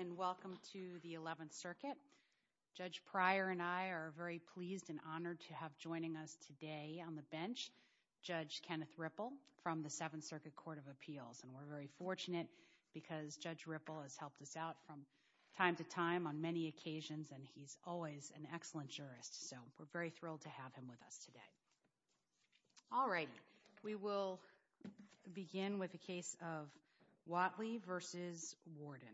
and welcome to the 11th Circuit. Judge Pryor and I are very pleased and honored to have joining us today on the bench, Judge Kenneth Ripple from the Seventh Circuit Court of Appeals. And we're very fortunate because Judge Ripple has helped us out from time to time on many occasions and he's always an excellent jurist. So we're very thrilled to have him with us today. All right, we will begin with the case of Whatley v. Warden.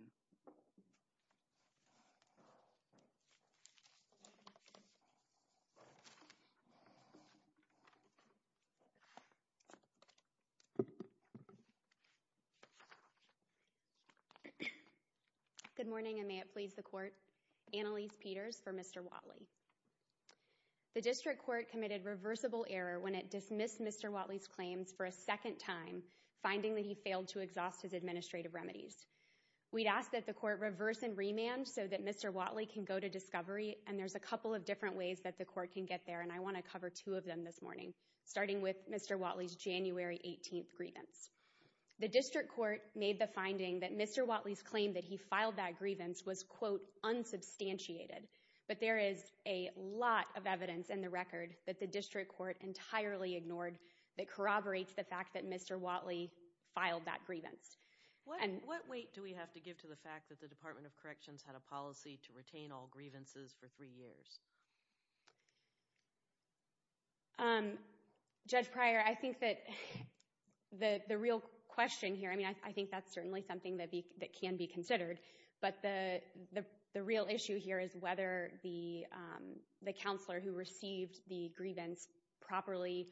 Good morning and may it please the court. Annalise Peters for Mr. Whatley. The district court committed reversible error when it dismissed Mr. Whatley's claims for a second time, finding that he failed to exhaust his administrative remedies. We'd asked that the court reverse and remand so that Mr. Whatley can go to discovery and there's a couple of different ways that the court can get there and I want to cover two of them this morning, starting with Mr. Whatley's January 18th grievance. The district court made the finding that Mr. Whatley's claim that he filed that grievance was, quote, unsubstantiated. But there is a lot of evidence in the record that the district court entirely ignored that corroborates the fact that Mr. Whatley filed that grievance. What weight do we have to give to the fact that the Department of Corrections had a policy to retain all grievances for three years? Judge Pryor, I think that the real question here, I mean, I think that's certainly something that can be considered. But the real issue here is whether the counselor who received the grievance properly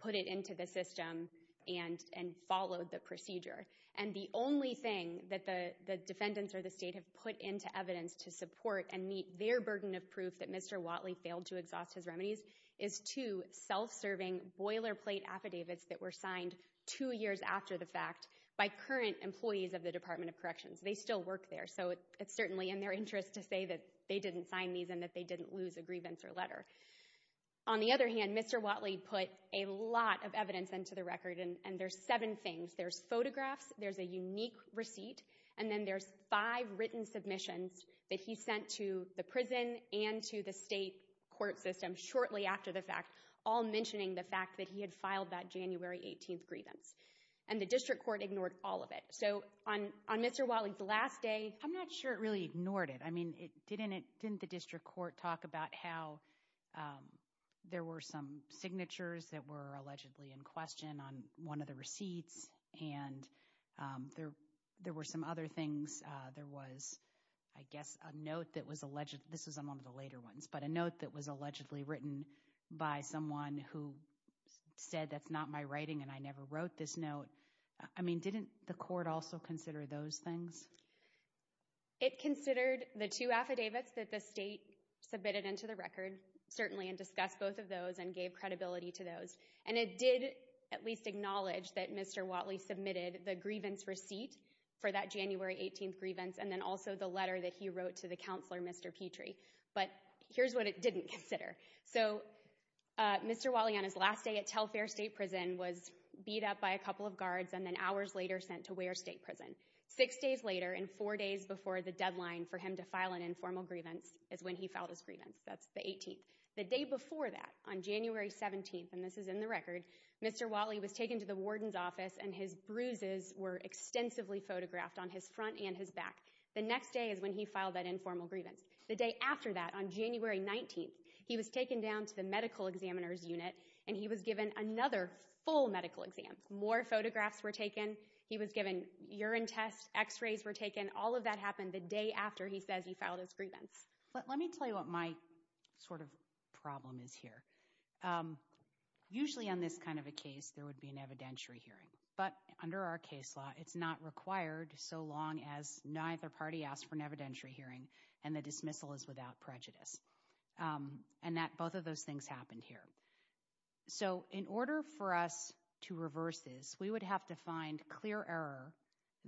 put it into the system and followed the procedure. And the only thing that the defendants or the state have put into evidence to support and meet their burden of proof that Mr. Whatley failed to exhaust his remedies is two self-serving boilerplate affidavits that were signed two years after the fact by current employees of the Department of Corrections. They still work there, so it's certainly in their interest to say that they didn't sign these and that they didn't lose a grievance or letter. On the other hand, Mr. Whatley put a lot of evidence into the record, and there's seven things. There's photographs, there's a unique receipt, and then there's five written submissions that he sent to the prison and to the state court system shortly after the fact, all mentioning the fact that he had filed that January 18th grievance. And the district court ignored all of it. So on Mr. Whatley's last day— I'm not sure it really ignored it. I mean, didn't the district court talk about how there were some signatures that were allegedly in question on one of the receipts, and there were some other things? There was, I guess, a note that was—this was among the later ones—but a note that was allegedly written by someone who said, that's not my writing and I never wrote this note. I mean, didn't the court also consider those things? It considered the two affidavits that the state submitted into the record, certainly, and discussed both of those and gave credibility to those. And it did at least acknowledge that Mr. Whatley submitted the grievance receipt for that January 18th grievance and then also the letter that he wrote to the counselor, Mr. Petrie. But here's what it didn't consider. So Mr. Whatley, on his last day at Telfair State Prison, was beat up by a couple of guards and then hours later sent to Ware State Prison. Six days later and four days before the deadline for him to file an informal grievance is when he filed his grievance. That's the 18th. The day before that, on January 17th—and this is in the record—Mr. Whatley was taken to the warden's office and his bruises were extensively photographed on his front and his back. The next day is when he filed that informal grievance. The day after that, on January 19th, he was taken down to the medical examiner's unit and he was given another full medical exam. More photographs were taken. He was given urine tests. X-rays were taken. All of that happened the day after he says he filed his grievance. Let me tell you what my sort of problem is here. Usually, on this kind of a case, there would be an evidentiary hearing. But under our case law, it's not required so long as neither party asks for an evidentiary hearing and the dismissal is without prejudice. And both of those things happened here. So in order for us to reverse this, we would have to find clear error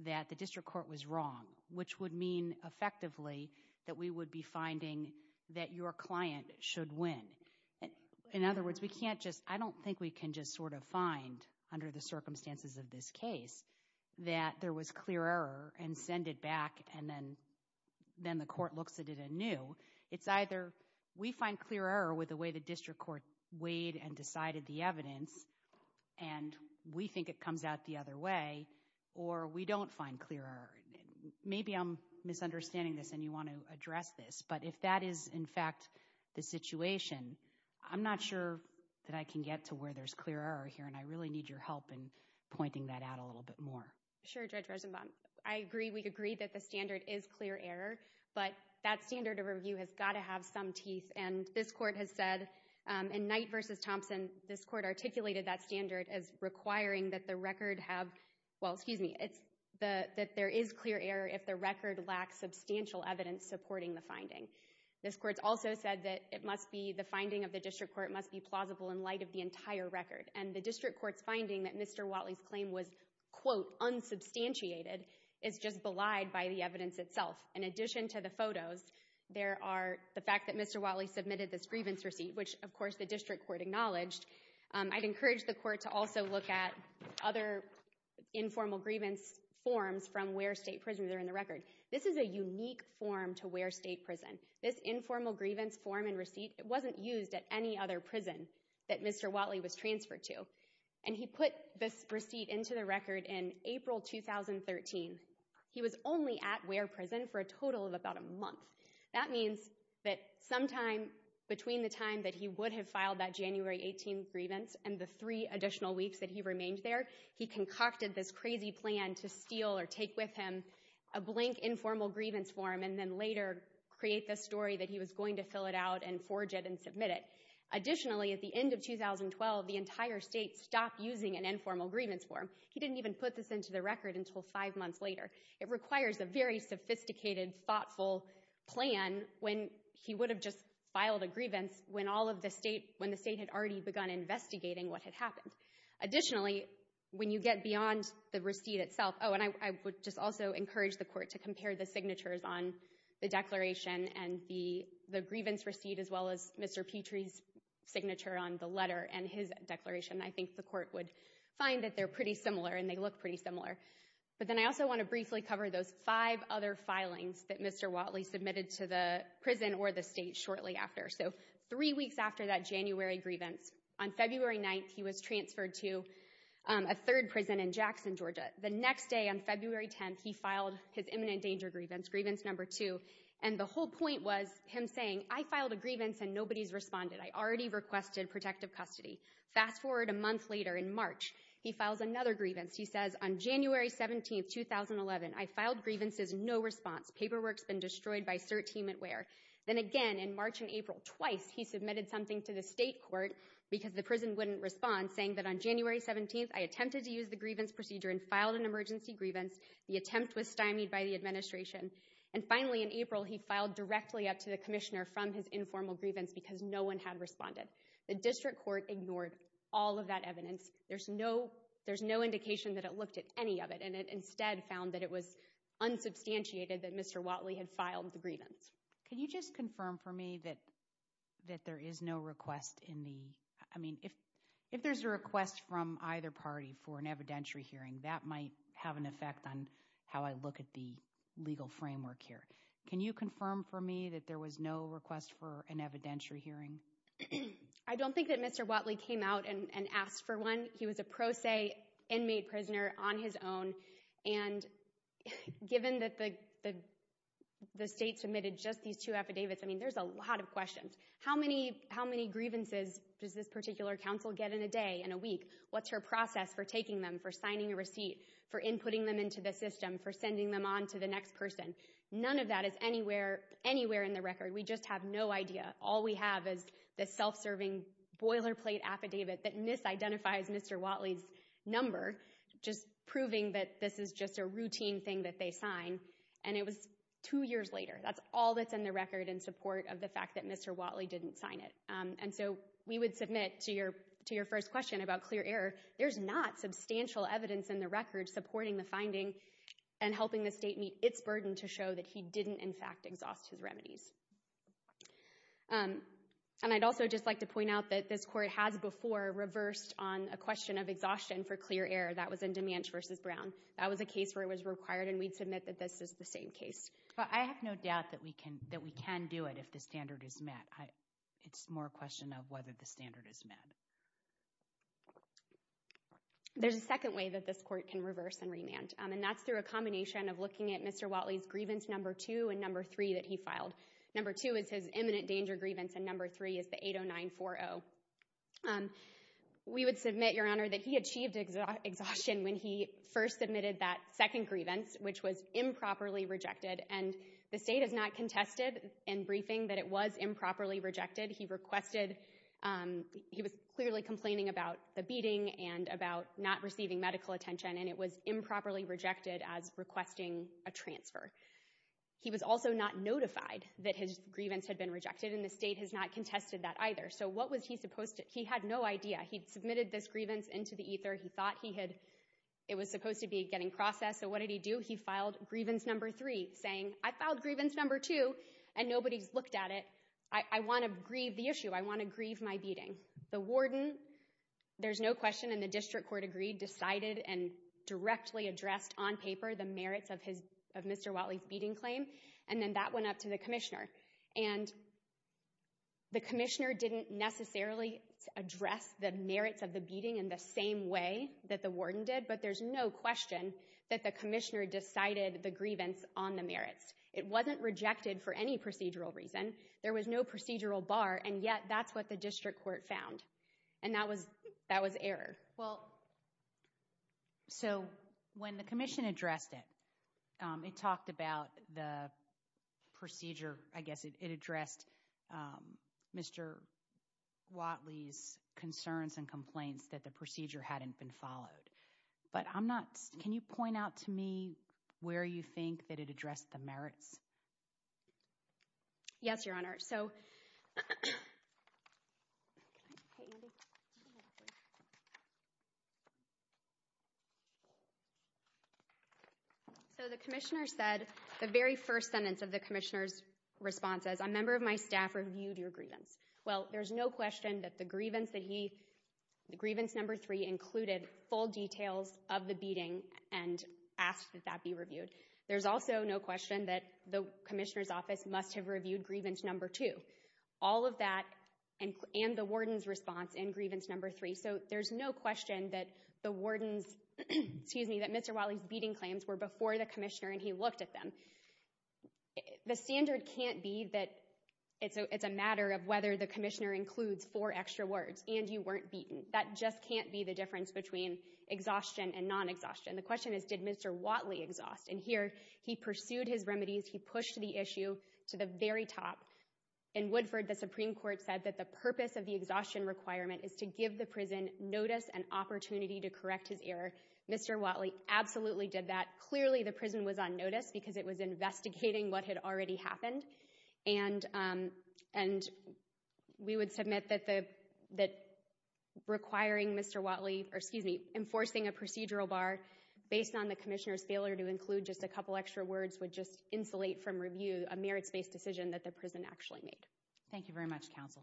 that the district court was wrong, which would mean effectively that we would be finding that your client should win. In other words, I don't think we can just sort of find, under the circumstances of this case, that there was clear error and send it back and then the court looks at it anew. It's either we find clear error with the way the district court weighed and decided the evidence and we think it comes out the other way, or we don't find clear error. Maybe I'm misunderstanding this and you want to address this. But if that is, in fact, the situation, I'm not sure that I can get to where there's clear error here. And I really need your help in pointing that out a little bit more. Sure, Judge Rosenbaum. I agree. We agree that the standard is clear error. But that standard of review has got to have some teeth. And this court has said, in Knight v. Thompson, this court articulated that standard as requiring that the record have, well, excuse me, that there is clear error if the record lacks substantial evidence supporting the finding. This court's also said that it must be, the finding of the district court must be plausible in light of the entire record. And the district court's finding that Mr. Whatley's claim was, quote, unsubstantiated is just belied by the evidence itself. In addition to the photos, there are the fact that Mr. Whatley submitted this grievance receipt, which, of course, the district court acknowledged. I'd encourage the court to also look at other informal grievance forms from Ware State Prison that are in the record. This is a unique form to Ware State Prison. This informal grievance form and receipt, it wasn't used at any other prison that Mr. Whatley was transferred to. And he put this receipt into the record in April 2013. He was only at Ware Prison for a total of about a month. That means that sometime between the time that he would have filed that January 18th grievance and the three additional weeks that he remained there, he concocted this crazy plan to steal or take with him a blank informal grievance form and then later create the story that he was going to fill it out and forge it and submit it. Additionally, at the end of 2012, the entire state stopped using an informal grievance form. He didn't even put this into the record until five months later. It requires a very sophisticated, thoughtful plan when he would have just filed a grievance when the state had already begun investigating what had happened. Additionally, when you get beyond the receipt itself, oh, and I would just also encourage the court to compare the signatures on the declaration and the grievance receipt as well as Mr. Petrie's signature on the letter and his declaration. I think the court would find that they're pretty similar and they look pretty similar. But then I also want to briefly cover those five other filings that Mr. Watley submitted to the prison or the state shortly after. So three weeks after that January grievance, on February 9th, he was transferred to a third prison in Jackson, Georgia. The next day, on February 10th, he filed his imminent danger grievance, grievance number two. And the whole point was him saying, I filed a grievance and nobody's responded. I already requested protective custody. Fast forward a month later, in March, he files another grievance. He says, on January 17th, 2011, I filed grievances, no response. Paperwork's been destroyed by cert team at Ware. Then again, in March and April, twice he submitted something to the state court because the prison wouldn't respond, saying that on January 17th, I attempted to use the grievance procedure and filed an emergency grievance. The attempt was stymied by the administration. And finally, in April, he filed directly up to the commissioner from his informal grievance because no one had responded. The district court ignored all of that evidence. There's no indication that it looked at any of it. And it instead found that it was unsubstantiated that Mr. Watley had filed the grievance. Can you just confirm for me that there is no request in the – I mean, if there's a request from either party for an evidentiary hearing, that might have an effect on how I look at the legal framework here. Can you confirm for me that there was no request for an evidentiary hearing? I don't think that Mr. Watley came out and asked for one. He was a pro se inmate prisoner on his own. And given that the state submitted just these two affidavits, I mean, there's a lot of questions. How many grievances does this particular counsel get in a day, in a week? What's her process for taking them, for signing a receipt, for inputting them into the system, for sending them on to the next person? None of that is anywhere in the record. We just have no idea. All we have is this self-serving boilerplate affidavit that misidentifies Mr. Watley's number, just proving that this is just a routine thing that they sign. And it was two years later. That's all that's in the record in support of the fact that Mr. Watley didn't sign it. And so we would submit to your first question about clear error. There's not substantial evidence in the record supporting the finding and helping the state meet its burden to show that he didn't, in fact, exhaust his remedies. And I'd also just like to point out that this Court has before reversed on a question of exhaustion for clear error. That was in DeManch v. Brown. That was a case where it was required, and we'd submit that this is the same case. But I have no doubt that we can do it if the standard is met. It's more a question of whether the standard is met. There's a second way that this Court can reverse and remand, and that's through a combination of looking at Mr. Watley's grievance No. 2 and No. 3 that he filed. No. 2 is his imminent danger grievance, and No. 3 is the 80940. We would submit, Your Honor, that he achieved exhaustion when he first submitted that second grievance, which was improperly rejected. And the state has not contested in briefing that it was improperly rejected. He was clearly complaining about the beating and about not receiving medical attention, and it was improperly rejected as requesting a transfer. He was also not notified that his grievance had been rejected, and the state has not contested that either. So what was he supposed to do? He had no idea. He'd submitted this grievance into the ether. He thought it was supposed to be getting processed. So what did he do? He filed grievance No. 3, saying, I filed grievance No. 2, and nobody's looked at it. I want to grieve the issue. I want to grieve my beating. The warden, there's no question, and the district court agreed, decided and directly addressed on paper the merits of Mr. Watley's beating claim, and then that went up to the commissioner. And the commissioner didn't necessarily address the merits of the beating in the same way that the warden did, but there's no question that the commissioner decided the grievance on the merits. It wasn't rejected for any procedural reason. There was no procedural bar, and yet that's what the district court found, and that was error. Well, so when the commission addressed it, it talked about the procedure. I guess it addressed Mr. Watley's concerns and complaints that the procedure hadn't been followed. But I'm not – can you point out to me where you think that it addressed the merits? Yes, Your Honor. So the commissioner said the very first sentence of the commissioner's response is, a member of my staff reviewed your grievance. Well, there's no question that the grievance that he – the grievance No. 3 included full details of the beating and asked that that be reviewed. There's also no question that the commissioner's office must have reviewed grievance No. 2. All of that and the warden's response in grievance No. 3, so there's no question that the warden's – excuse me, that Mr. Watley's beating claims were before the commissioner and he looked at them. The standard can't be that it's a matter of whether the commissioner includes four extra words and you weren't beaten. That just can't be the difference between exhaustion and non-exhaustion. The question is, did Mr. Watley exhaust? And here, he pursued his remedies. He pushed the issue to the very top. In Woodford, the Supreme Court said that the purpose of the exhaustion requirement is to give the prison notice and opportunity to correct his error. Mr. Watley absolutely did that. Clearly, the prison was on notice because it was investigating what had already happened. And we would submit that requiring Mr. Watley – or excuse me, enforcing a procedural bar based on the commissioner's failure to include just a couple extra words would just insulate from review a merits-based decision that the prison actually made. Thank you very much, counsel.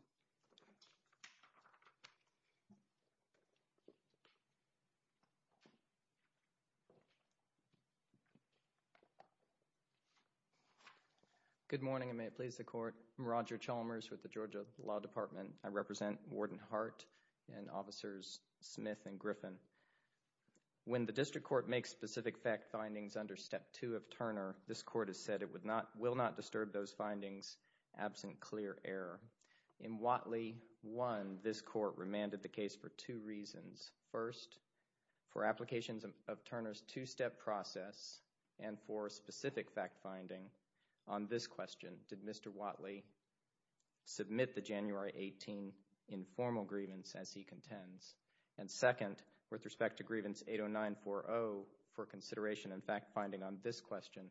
Good morning, and may it please the court. I'm Roger Chalmers with the Georgia Law Department. I represent Warden Hart and Officers Smith and Griffin. When the district court makes specific fact findings under Step 2 of Turner, this court has said it will not disturb those findings absent clear error. In Watley 1, this court remanded the case for two reasons. First, for applications of Turner's two-step process and for specific fact finding on this question, did Mr. Watley submit the January 18 informal grievance as he contends? And second, with respect to grievance 80940, for consideration and fact finding on this question,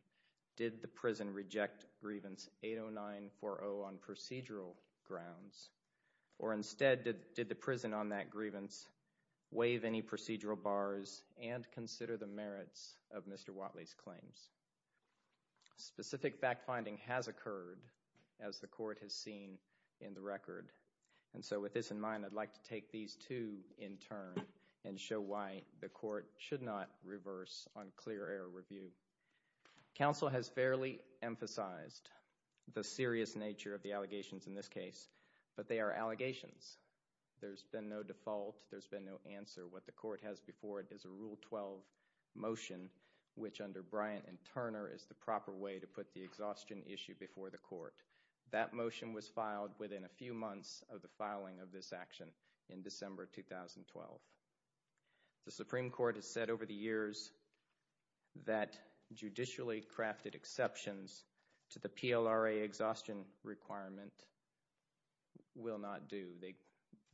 did the prison reject grievance 80940 on procedural grounds? Or instead, did the prison on that grievance waive any procedural bars and consider the merits of Mr. Watley's claims? Specific fact finding has occurred, as the court has seen in the record. And so with this in mind, I'd like to take these two in turn and show why the court should not reverse on clear error review. Council has fairly emphasized the serious nature of the allegations in this case, but they are allegations. There's been no default. There's been no answer. What the court has before it is a Rule 12 motion, which under Bryant and Turner is the proper way to put the exhaustion issue before the court. That motion was filed within a few months of the filing of this action in December 2012. The Supreme Court has said over the years that judicially crafted exceptions to the PLRA exhaustion requirement will not do.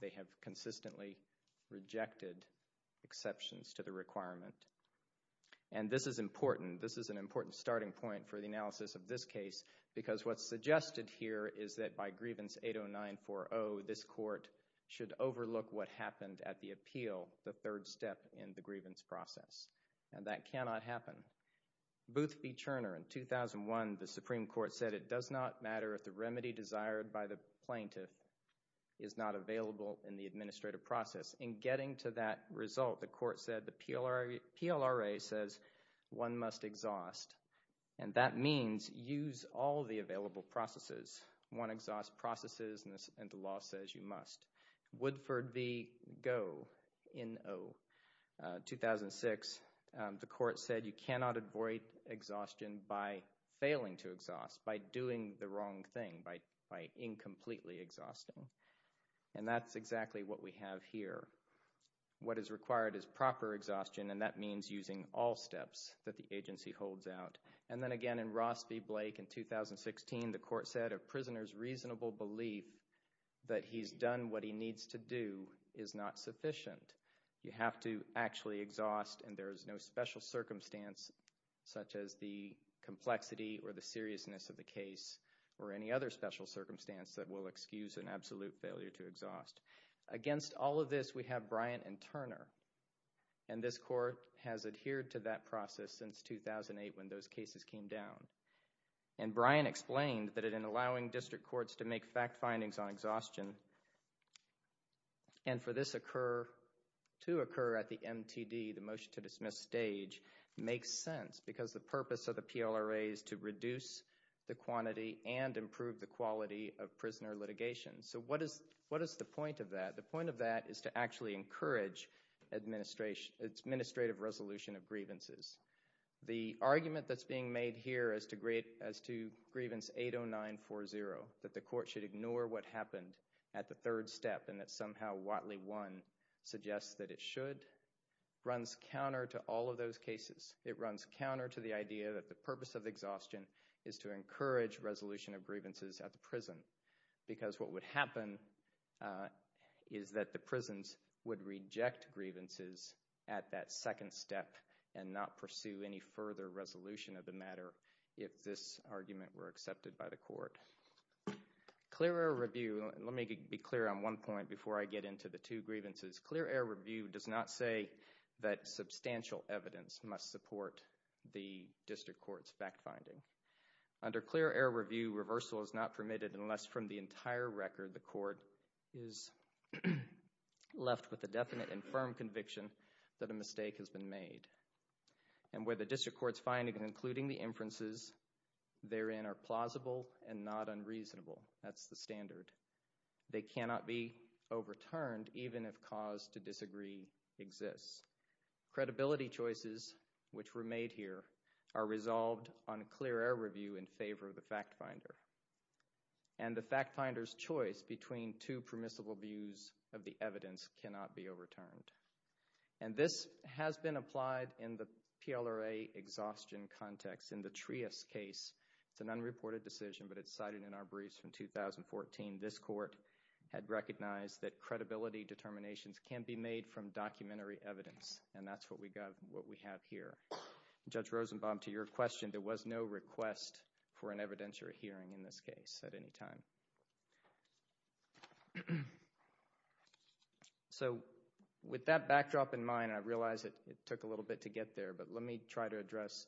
They have consistently rejected exceptions to the requirement. And this is important. This is an important starting point for the analysis of this case because what's suggested here is that by grievance 80940, this court should overlook what happened at the appeal, the third step in the grievance process. And that cannot happen. Boothby, Turner, in 2001, the Supreme Court said it does not matter if the remedy desired by the plaintiff is not available in the administrative process. In getting to that result, the court said the PLRA says one must exhaust. And that means use all the available processes. One exhaust processes, and the law says you must. Woodford v. Go, in 2006, the court said you cannot avoid exhaustion by failing to exhaust, by doing the wrong thing, by incompletely exhausting. And that's exactly what we have here. What is required is proper exhaustion, and that means using all steps that the agency holds out. And then again in Ross v. Blake in 2016, the court said a prisoner's reasonable belief that he's done what he needs to do is not sufficient. You have to actually exhaust, and there is no special circumstance such as the complexity or the seriousness of the case or any other special circumstance that will excuse an absolute failure to exhaust. Against all of this, we have Bryant v. Turner. And this court has adhered to that process since 2008 when those cases came down. And Bryant explained that in allowing district courts to make fact findings on exhaustion, and for this to occur at the MTD, the motion to dismiss stage, makes sense because the purpose of the PLRA is to reduce the quantity and improve the quality of prisoner litigation. So what is the point of that? The point of that is to actually encourage administrative resolution of grievances. The argument that's being made here as to grievance 80940, that the court should ignore what happened at the third step and that somehow Watley 1 suggests that it should, runs counter to all of those cases. It runs counter to the idea that the purpose of exhaustion is to encourage resolution of grievances at the prison because what would happen is that the prisons would reject grievances at that second step and not pursue any further resolution of the matter if this argument were accepted by the court. Clear air review, let me be clear on one point before I get into the two grievances. Clear air review does not say that substantial evidence must support the district court's fact finding. Under clear air review, reversal is not permitted unless from the entire record the court is left with a definite and firm conviction that a mistake has been made. And where the district court's finding including the inferences therein are plausible and not unreasonable. That's the standard. They cannot be overturned even if cause to disagree exists. Credibility choices which were made here are resolved on clear air review in favor of the fact finder. And the fact finder's choice between two permissible views of the evidence cannot be overturned. And this has been applied in the PLRA exhaustion context. In the Trias case, it's an unreported decision but it's cited in our briefs from 2014. This court had recognized that credibility determinations can be made from documentary evidence and that's what we have here. Judge Rosenbaum, to your question, there was no request for an evidentiary hearing in this case at any time. So with that backdrop in mind, I realize it took a little bit to get there but let me try to address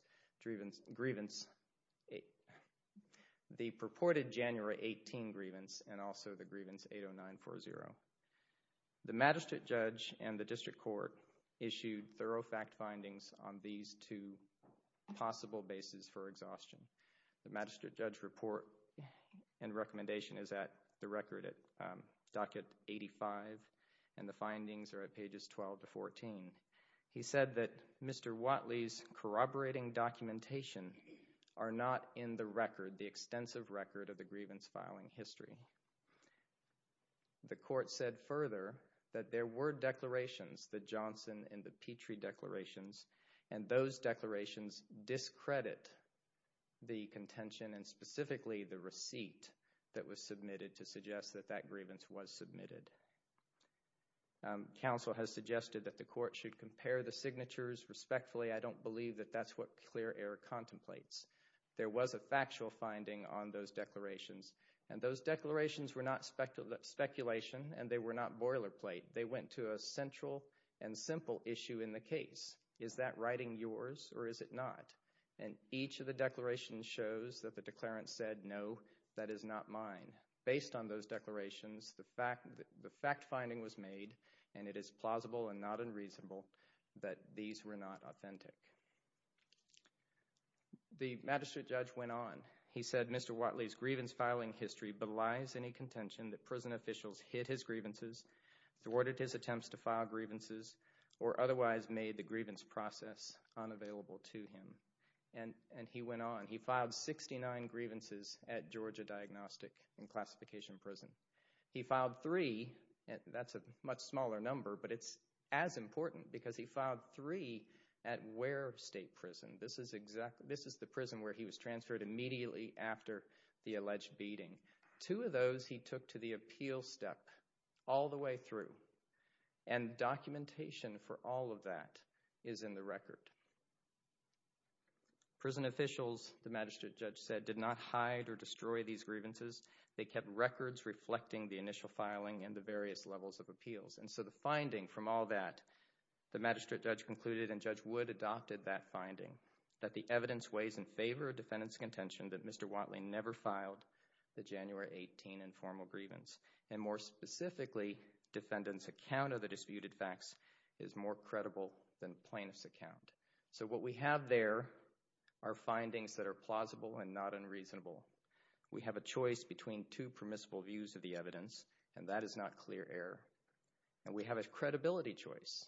the purported January 18 grievance and also the grievance 80940. The magistrate judge and the district court issued thorough fact findings on these two possible bases for exhaustion. The magistrate judge report and recommendation is at the record at docket 85 and the findings are at pages 12 to 14. He said that Mr. Watley's corroborating documentation are not in the record, the extensive record of the grievance filing history. The court said further that there were declarations, the Johnson and the Petrie declarations, and those declarations discredit the contention and specifically the receipt that was submitted to suggest that that grievance was submitted. Counsel has suggested that the court should compare the signatures respectfully. I don't believe that that's what clear error contemplates. There was a factual finding on those declarations and those declarations were not speculation and they were not boilerplate. They went to a central and simple issue in the case. Is that writing yours or is it not? And each of the declarations shows that the declarant said, no, that is not mine. Based on those declarations, the fact finding was made and it is plausible and not unreasonable that these were not authentic. The magistrate judge went on. He said Mr. Watley's grievance filing history belies any contention that prison officials hid his grievances, thwarted his attempts to file grievances, or otherwise made the grievance process unavailable to him. And he went on. He filed 69 grievances at Georgia Diagnostic and Classification Prison. He filed three. That's a much smaller number, but it's as important because he filed three at Ware State Prison. This is the prison where he was transferred immediately after the alleged beating. Two of those he took to the appeal step all the way through, and documentation for all of that is in the record. Prison officials, the magistrate judge said, did not hide or destroy these grievances. They kept records reflecting the initial filing and the various levels of appeals. And so the finding from all that, the magistrate judge concluded, and Judge Wood adopted that finding, that the evidence weighs in favor of defendant's contention that Mr. Watley never filed, the January 18 informal grievance. And more specifically, defendant's account of the disputed facts is more credible than plaintiff's account. So what we have there are findings that are plausible and not unreasonable. We have a choice between two permissible views of the evidence, and that is not clear error. And we have a credibility choice,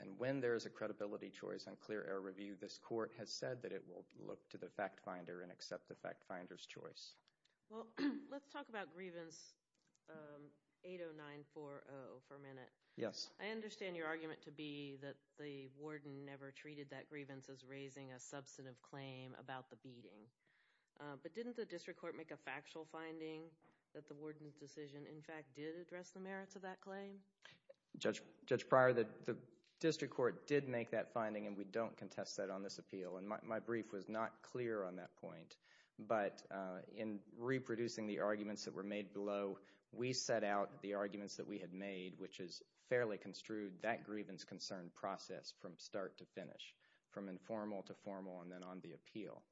and when there is a credibility choice on clear error review, this court has said that it will look to the fact finder and accept the fact finder's choice. Well, let's talk about grievance 80940 for a minute. Yes. I understand your argument to be that the warden never treated that grievance as raising a substantive claim about the beating. But didn't the district court make a factual finding that the warden's decision, in fact, did address the merits of that claim? Judge Pryor, the district court did make that finding, and we don't contest that on this appeal, and my brief was not clear on that point. But in reproducing the arguments that were made below, we set out the arguments that we had made, which is fairly construed that grievance concern process from start to finish, from informal to formal and then on the appeal.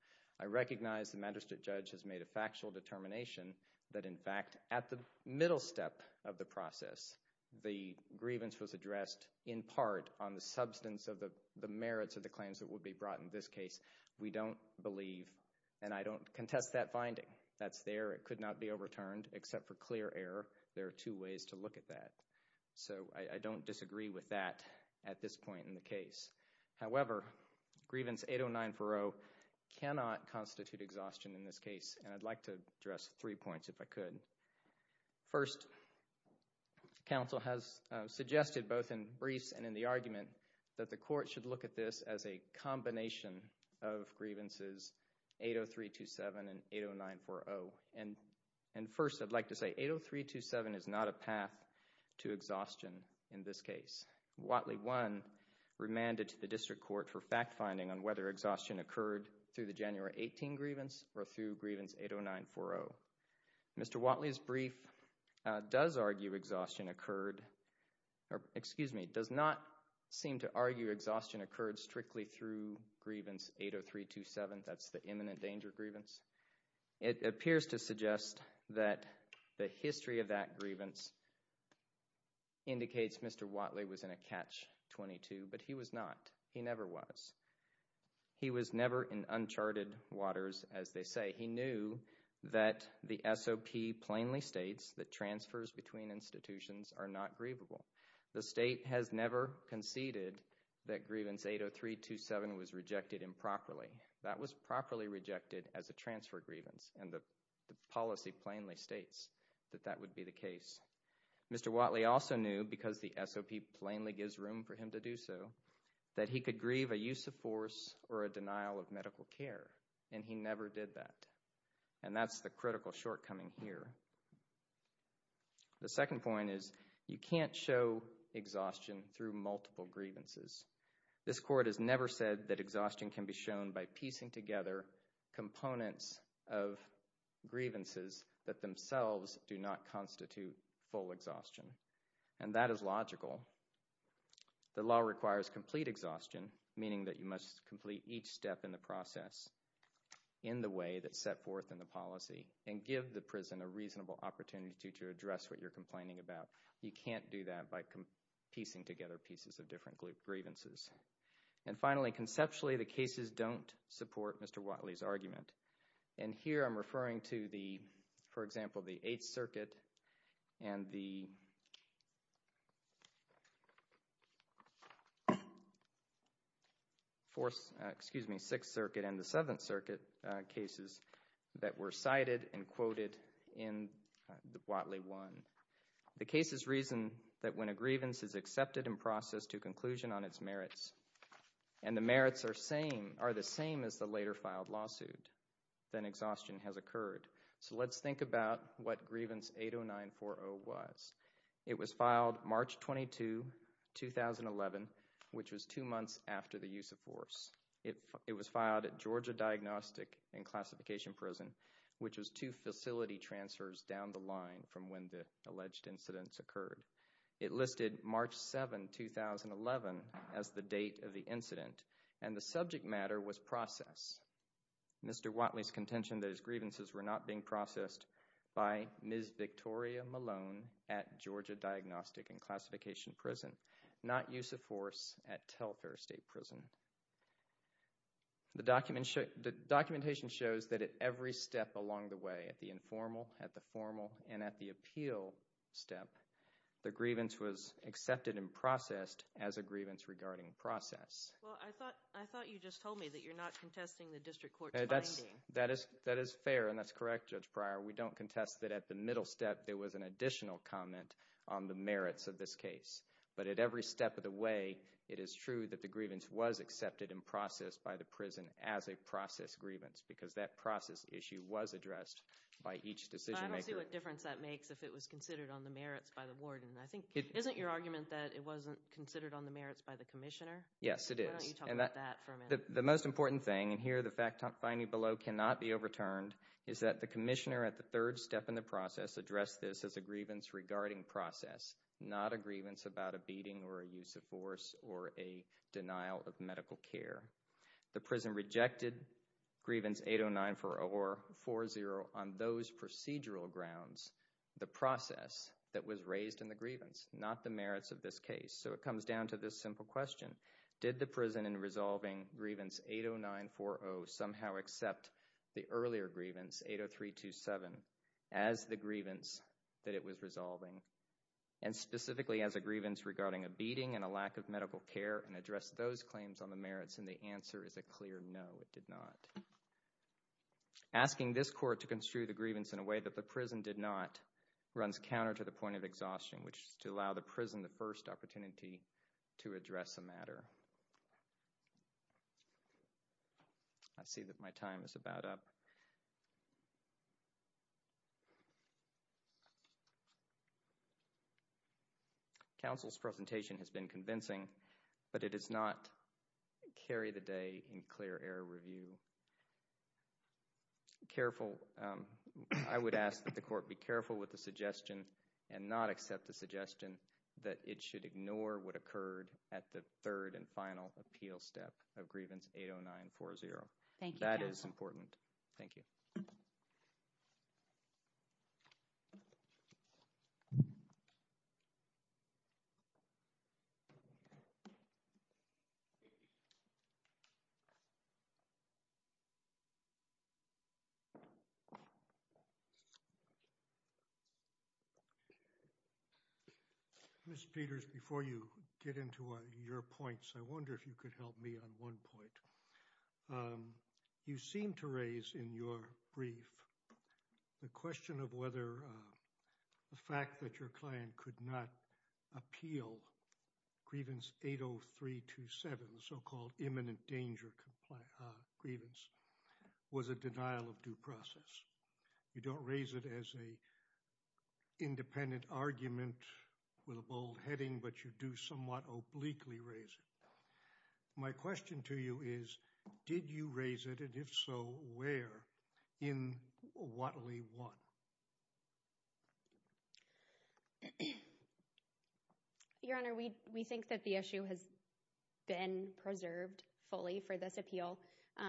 I recognize the magistrate judge has made a factual determination that, in fact, at the middle step of the process, the grievance was addressed in part on the substance of the merits of the claims that would be brought in this case. We don't believe, and I don't contest that finding. That's there. It could not be overturned except for clear error. There are two ways to look at that. So I don't disagree with that at this point in the case. However, grievance 80940 cannot constitute exhaustion in this case, and I'd like to address three points if I could. First, counsel has suggested both in briefs and in the argument that the court should look at this as a combination of grievances 80327 and 80940. And first, I'd like to say 80327 is not a path to exhaustion in this case. Watley 1 remanded to the district court for fact-finding on whether exhaustion occurred through the January 18 grievance or through grievance 80940. Mr. Watley's brief does argue exhaustion occurred or, excuse me, does not seem to argue exhaustion occurred strictly through grievance 80327. That's the imminent danger grievance. It appears to suggest that the history of that grievance indicates Mr. Watley was in a catch 22, but he was not. He never was. He was never in uncharted waters, as they say. He knew that the SOP plainly states that transfers between institutions are not grievable. The state has never conceded that grievance 80327 was rejected improperly. That was properly rejected as a transfer grievance, and the policy plainly states that that would be the case. Mr. Watley also knew, because the SOP plainly gives room for him to do so, that he could grieve a use of force or a denial of medical care, and he never did that, and that's the critical shortcoming here. The second point is you can't show exhaustion through multiple grievances. This court has never said that exhaustion can be shown by piecing together components of grievances that themselves do not constitute full exhaustion, and that is logical. The law requires complete exhaustion, meaning that you must complete each step in the process in the way that's set forth in the policy and give the prison a reasonable opportunity to address what you're complaining about. You can't do that by piecing together pieces of different grievances. And finally, conceptually, the cases don't support Mr. Watley's argument, and here I'm referring to, for example, the Eighth Circuit and the Sixth Circuit and the Seventh Circuit cases that were cited and quoted in Watley 1. The cases reason that when a grievance is accepted and processed to conclusion on its merits and the merits are the same as the later filed lawsuit, then exhaustion has occurred. So let's think about what Grievance 80940 was. It was filed March 22, 2011, which was two months after the use of force. It was filed at Georgia Diagnostic and Classification Prison, which was two facility transfers down the line from when the alleged incidents occurred. It listed March 7, 2011 as the date of the incident, and the subject matter was process. Mr. Watley's contention that his grievances were not being processed by Ms. Victoria Malone at Georgia Diagnostic and Classification Prison, not use of force at Telfair State Prison. The documentation shows that at every step along the way, at the informal, at the formal, and at the appeal step, the grievance was accepted and processed as a grievance regarding process. Well, I thought you just told me that you're not contesting the district court's finding. That is fair, and that's correct, Judge Pryor. We don't contest that at the middle step there was an additional comment on the merits of this case. But at every step of the way, it is true that the grievance was accepted and processed by the prison as a process grievance because that process issue was addressed by each decision maker. But I don't see what difference that makes if it was considered on the merits by the warden. Isn't your argument that it wasn't considered on the merits by the commissioner? Yes, it is. Why don't you talk about that for a minute? The most important thing, and here the fact finding below cannot be overturned, is that the commissioner at the third step in the process addressed this as a grievance regarding process, not a grievance about a beating or a use of force or a denial of medical care. The prison rejected grievance 80940 on those procedural grounds, the process that was raised in the grievance, not the merits of this case. So it comes down to this simple question. Did the prison in resolving grievance 80940 somehow accept the earlier grievance, 80327, as the grievance that it was resolving and specifically as a grievance regarding a beating and a lack of medical care and address those claims on the merits? And the answer is a clear no, it did not. Asking this court to construe the grievance in a way that the prison did not runs counter to the point of exhaustion, which is to allow the prison the first opportunity to address the matter. I see that my time is about up. Counsel's presentation has been convincing, but it does not carry the day in clear air review. Careful, I would ask that the court be careful with the suggestion and not accept the suggestion that it should ignore what occurred at the third and final appeal step of grievance 80940. Thank you. That is important. Thank you. Mr. Peters, before you get into your points, I wonder if you could help me on one point. You seem to raise in your brief the question of whether the fact that your client could not appeal grievance 80327, the so-called imminent danger grievance, was a denial of due process. You don't raise it as an independent argument with a bold heading, but you do somewhat obliquely raise it. My question to you is, did you raise it? And if so, where? In Whatley one. Your Honor, we we think that the issue has been preserved fully for this appeal. So,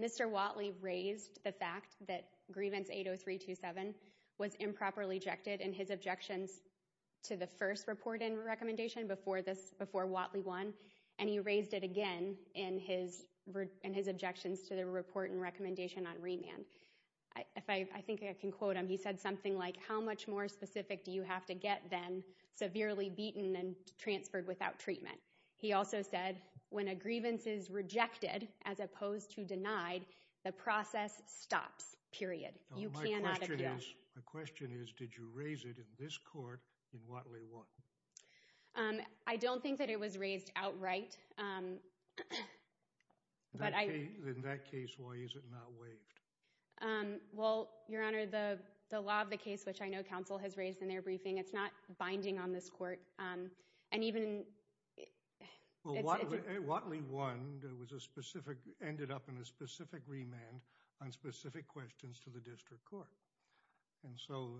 Mr. Whatley raised the fact that grievance 80327 was improperly ejected in his objections to the first report and recommendation before Whatley one, and he raised it again in his objections to the report and recommendation on remand. I think I can quote him. He said something like, how much more specific do you have to get than severely beaten and transferred without treatment? He also said when a grievance is rejected as opposed to denied, the process stops, period. You cannot appeal. My question is, did you raise it in this court in Whatley one? I don't think that it was raised outright. But in that case, why is it not waived? Well, Your Honor, the law of the case, which I know counsel has raised in their briefing, it's not binding on this court. And even Whatley one was a specific ended up in a specific remand on specific questions to the district court. And so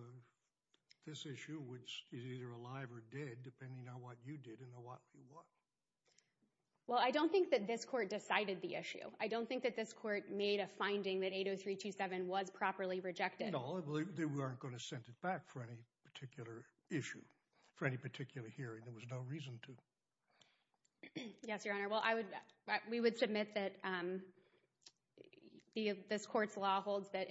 this issue is either alive or dead depending on what you did in the Whatley one. Well, I don't think that this court decided the issue. I don't think that this court made a finding that 80327 was properly rejected. No, I believe they weren't going to send it back for any particular issue, for any particular hearing. There was no reason to. Yes, Your Honor. Well, we would submit that this court's law holds that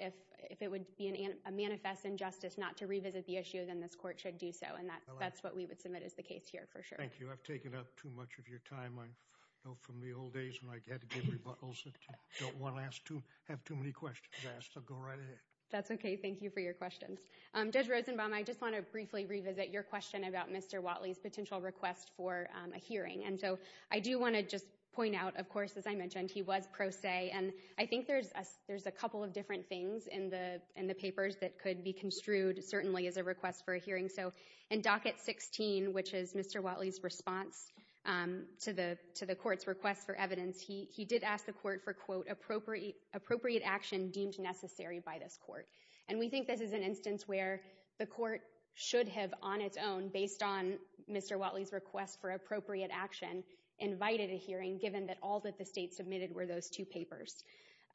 if it would be a manifest injustice not to revisit the issue, then this court should do so. And that's what we would submit as the case here, for sure. Thank you. I've taken up too much of your time. I know from the old days when I had to give rebuttals that I don't want to have too many questions asked. I'll go right ahead. That's OK. Thank you for your questions. Judge Rosenbaum, I just want to briefly revisit your question about Mr. Whatley's potential request for a hearing. And so I do want to just point out, of course, as I mentioned, he was pro se. And I think there's a couple of different things in the papers that could be construed certainly as a request for a hearing. So in Docket 16, which is Mr. Whatley's response to the court's request for evidence, he did ask the court for, quote, appropriate action deemed necessary by this court. And we think this is an instance where the court should have, on its own, based on Mr. Whatley's request for appropriate action, invited a hearing, given that all that the state submitted were those two papers.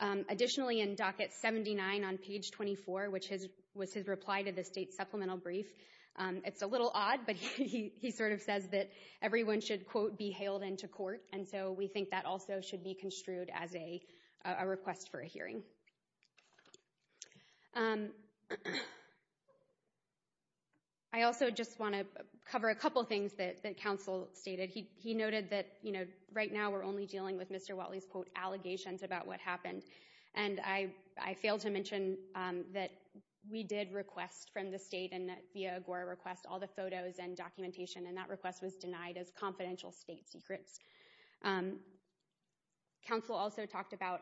Additionally, in Docket 79 on page 24, which was his reply to the state's supplemental brief, it's a little odd, but he sort of says that everyone should, quote, be hailed into court. And so we think that also should be construed as a request for a hearing. I also just want to cover a couple of things that counsel stated. He noted that, you know, right now we're only dealing with Mr. Whatley's, quote, allegations about what happened. And I fail to mention that we did request from the state and that via Agora request all the photos and documentation, and that request was denied as confidential state secrets. Counsel also talked about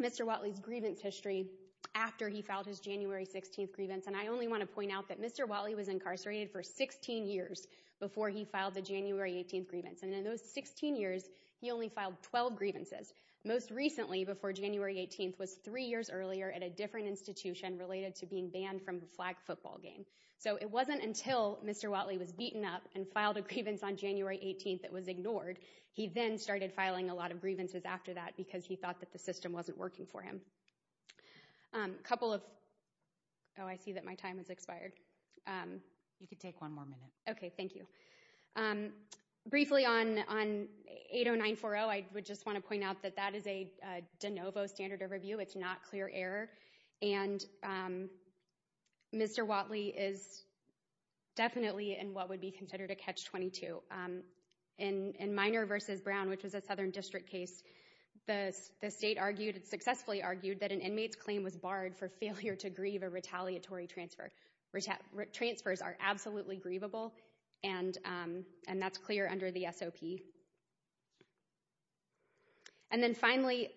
Mr. Whatley's grievance history after he filed his January 16th grievance. And I only want to point out that Mr. Whatley was incarcerated for 16 years before he filed the January 18th grievance. And in those 16 years, he only filed 12 grievances. Most recently, before January 18th, was three years earlier at a different institution related to being banned from a flag football game. So it wasn't until Mr. Whatley was beaten up and filed a grievance on January 18th that was ignored. He then started filing a lot of grievances after that because he thought that the system wasn't working for him. A couple of – oh, I see that my time has expired. You can take one more minute. Okay, thank you. Briefly, on 80940, I would just want to point out that that is a de novo standard of review. It's not clear error, and Mr. Whatley is definitely in what would be considered a Catch-22. In Minor v. Brown, which was a Southern District case, the state argued – successfully argued – that an inmate's claim was barred for failure to grieve a retaliatory transfer. Transfers are absolutely grievable, and that's clear under the SOP. And then finally,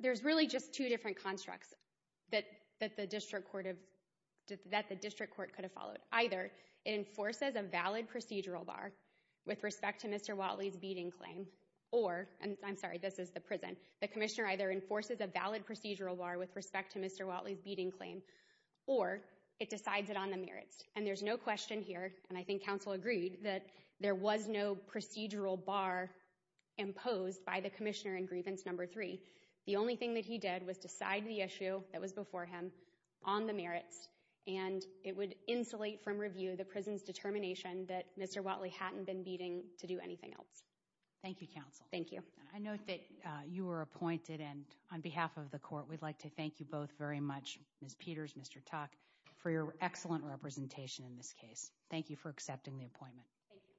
there's really just two different constructs that the district court could have followed. Either it enforces a valid procedural bar with respect to Mr. Whatley's beating claim, or – and I'm sorry, this is the prison – the commissioner either enforces a valid procedural bar with respect to Mr. Whatley's beating claim, or it decides it on the merits. And there's no question here, and I think counsel agreed, that there was no procedural bar imposed by the commissioner in Grievance No. 3. The only thing that he did was decide the issue that was before him on the merits, and it would insulate from review the prison's determination that Mr. Whatley hadn't been beating to do anything else. Thank you, counsel. Thank you. I note that you were appointed, and on behalf of the court, we'd like to thank you both very much, Ms. Peters, Mr. Tuck, for your excellent representation in this case. Thank you for accepting the appointment. Thank you.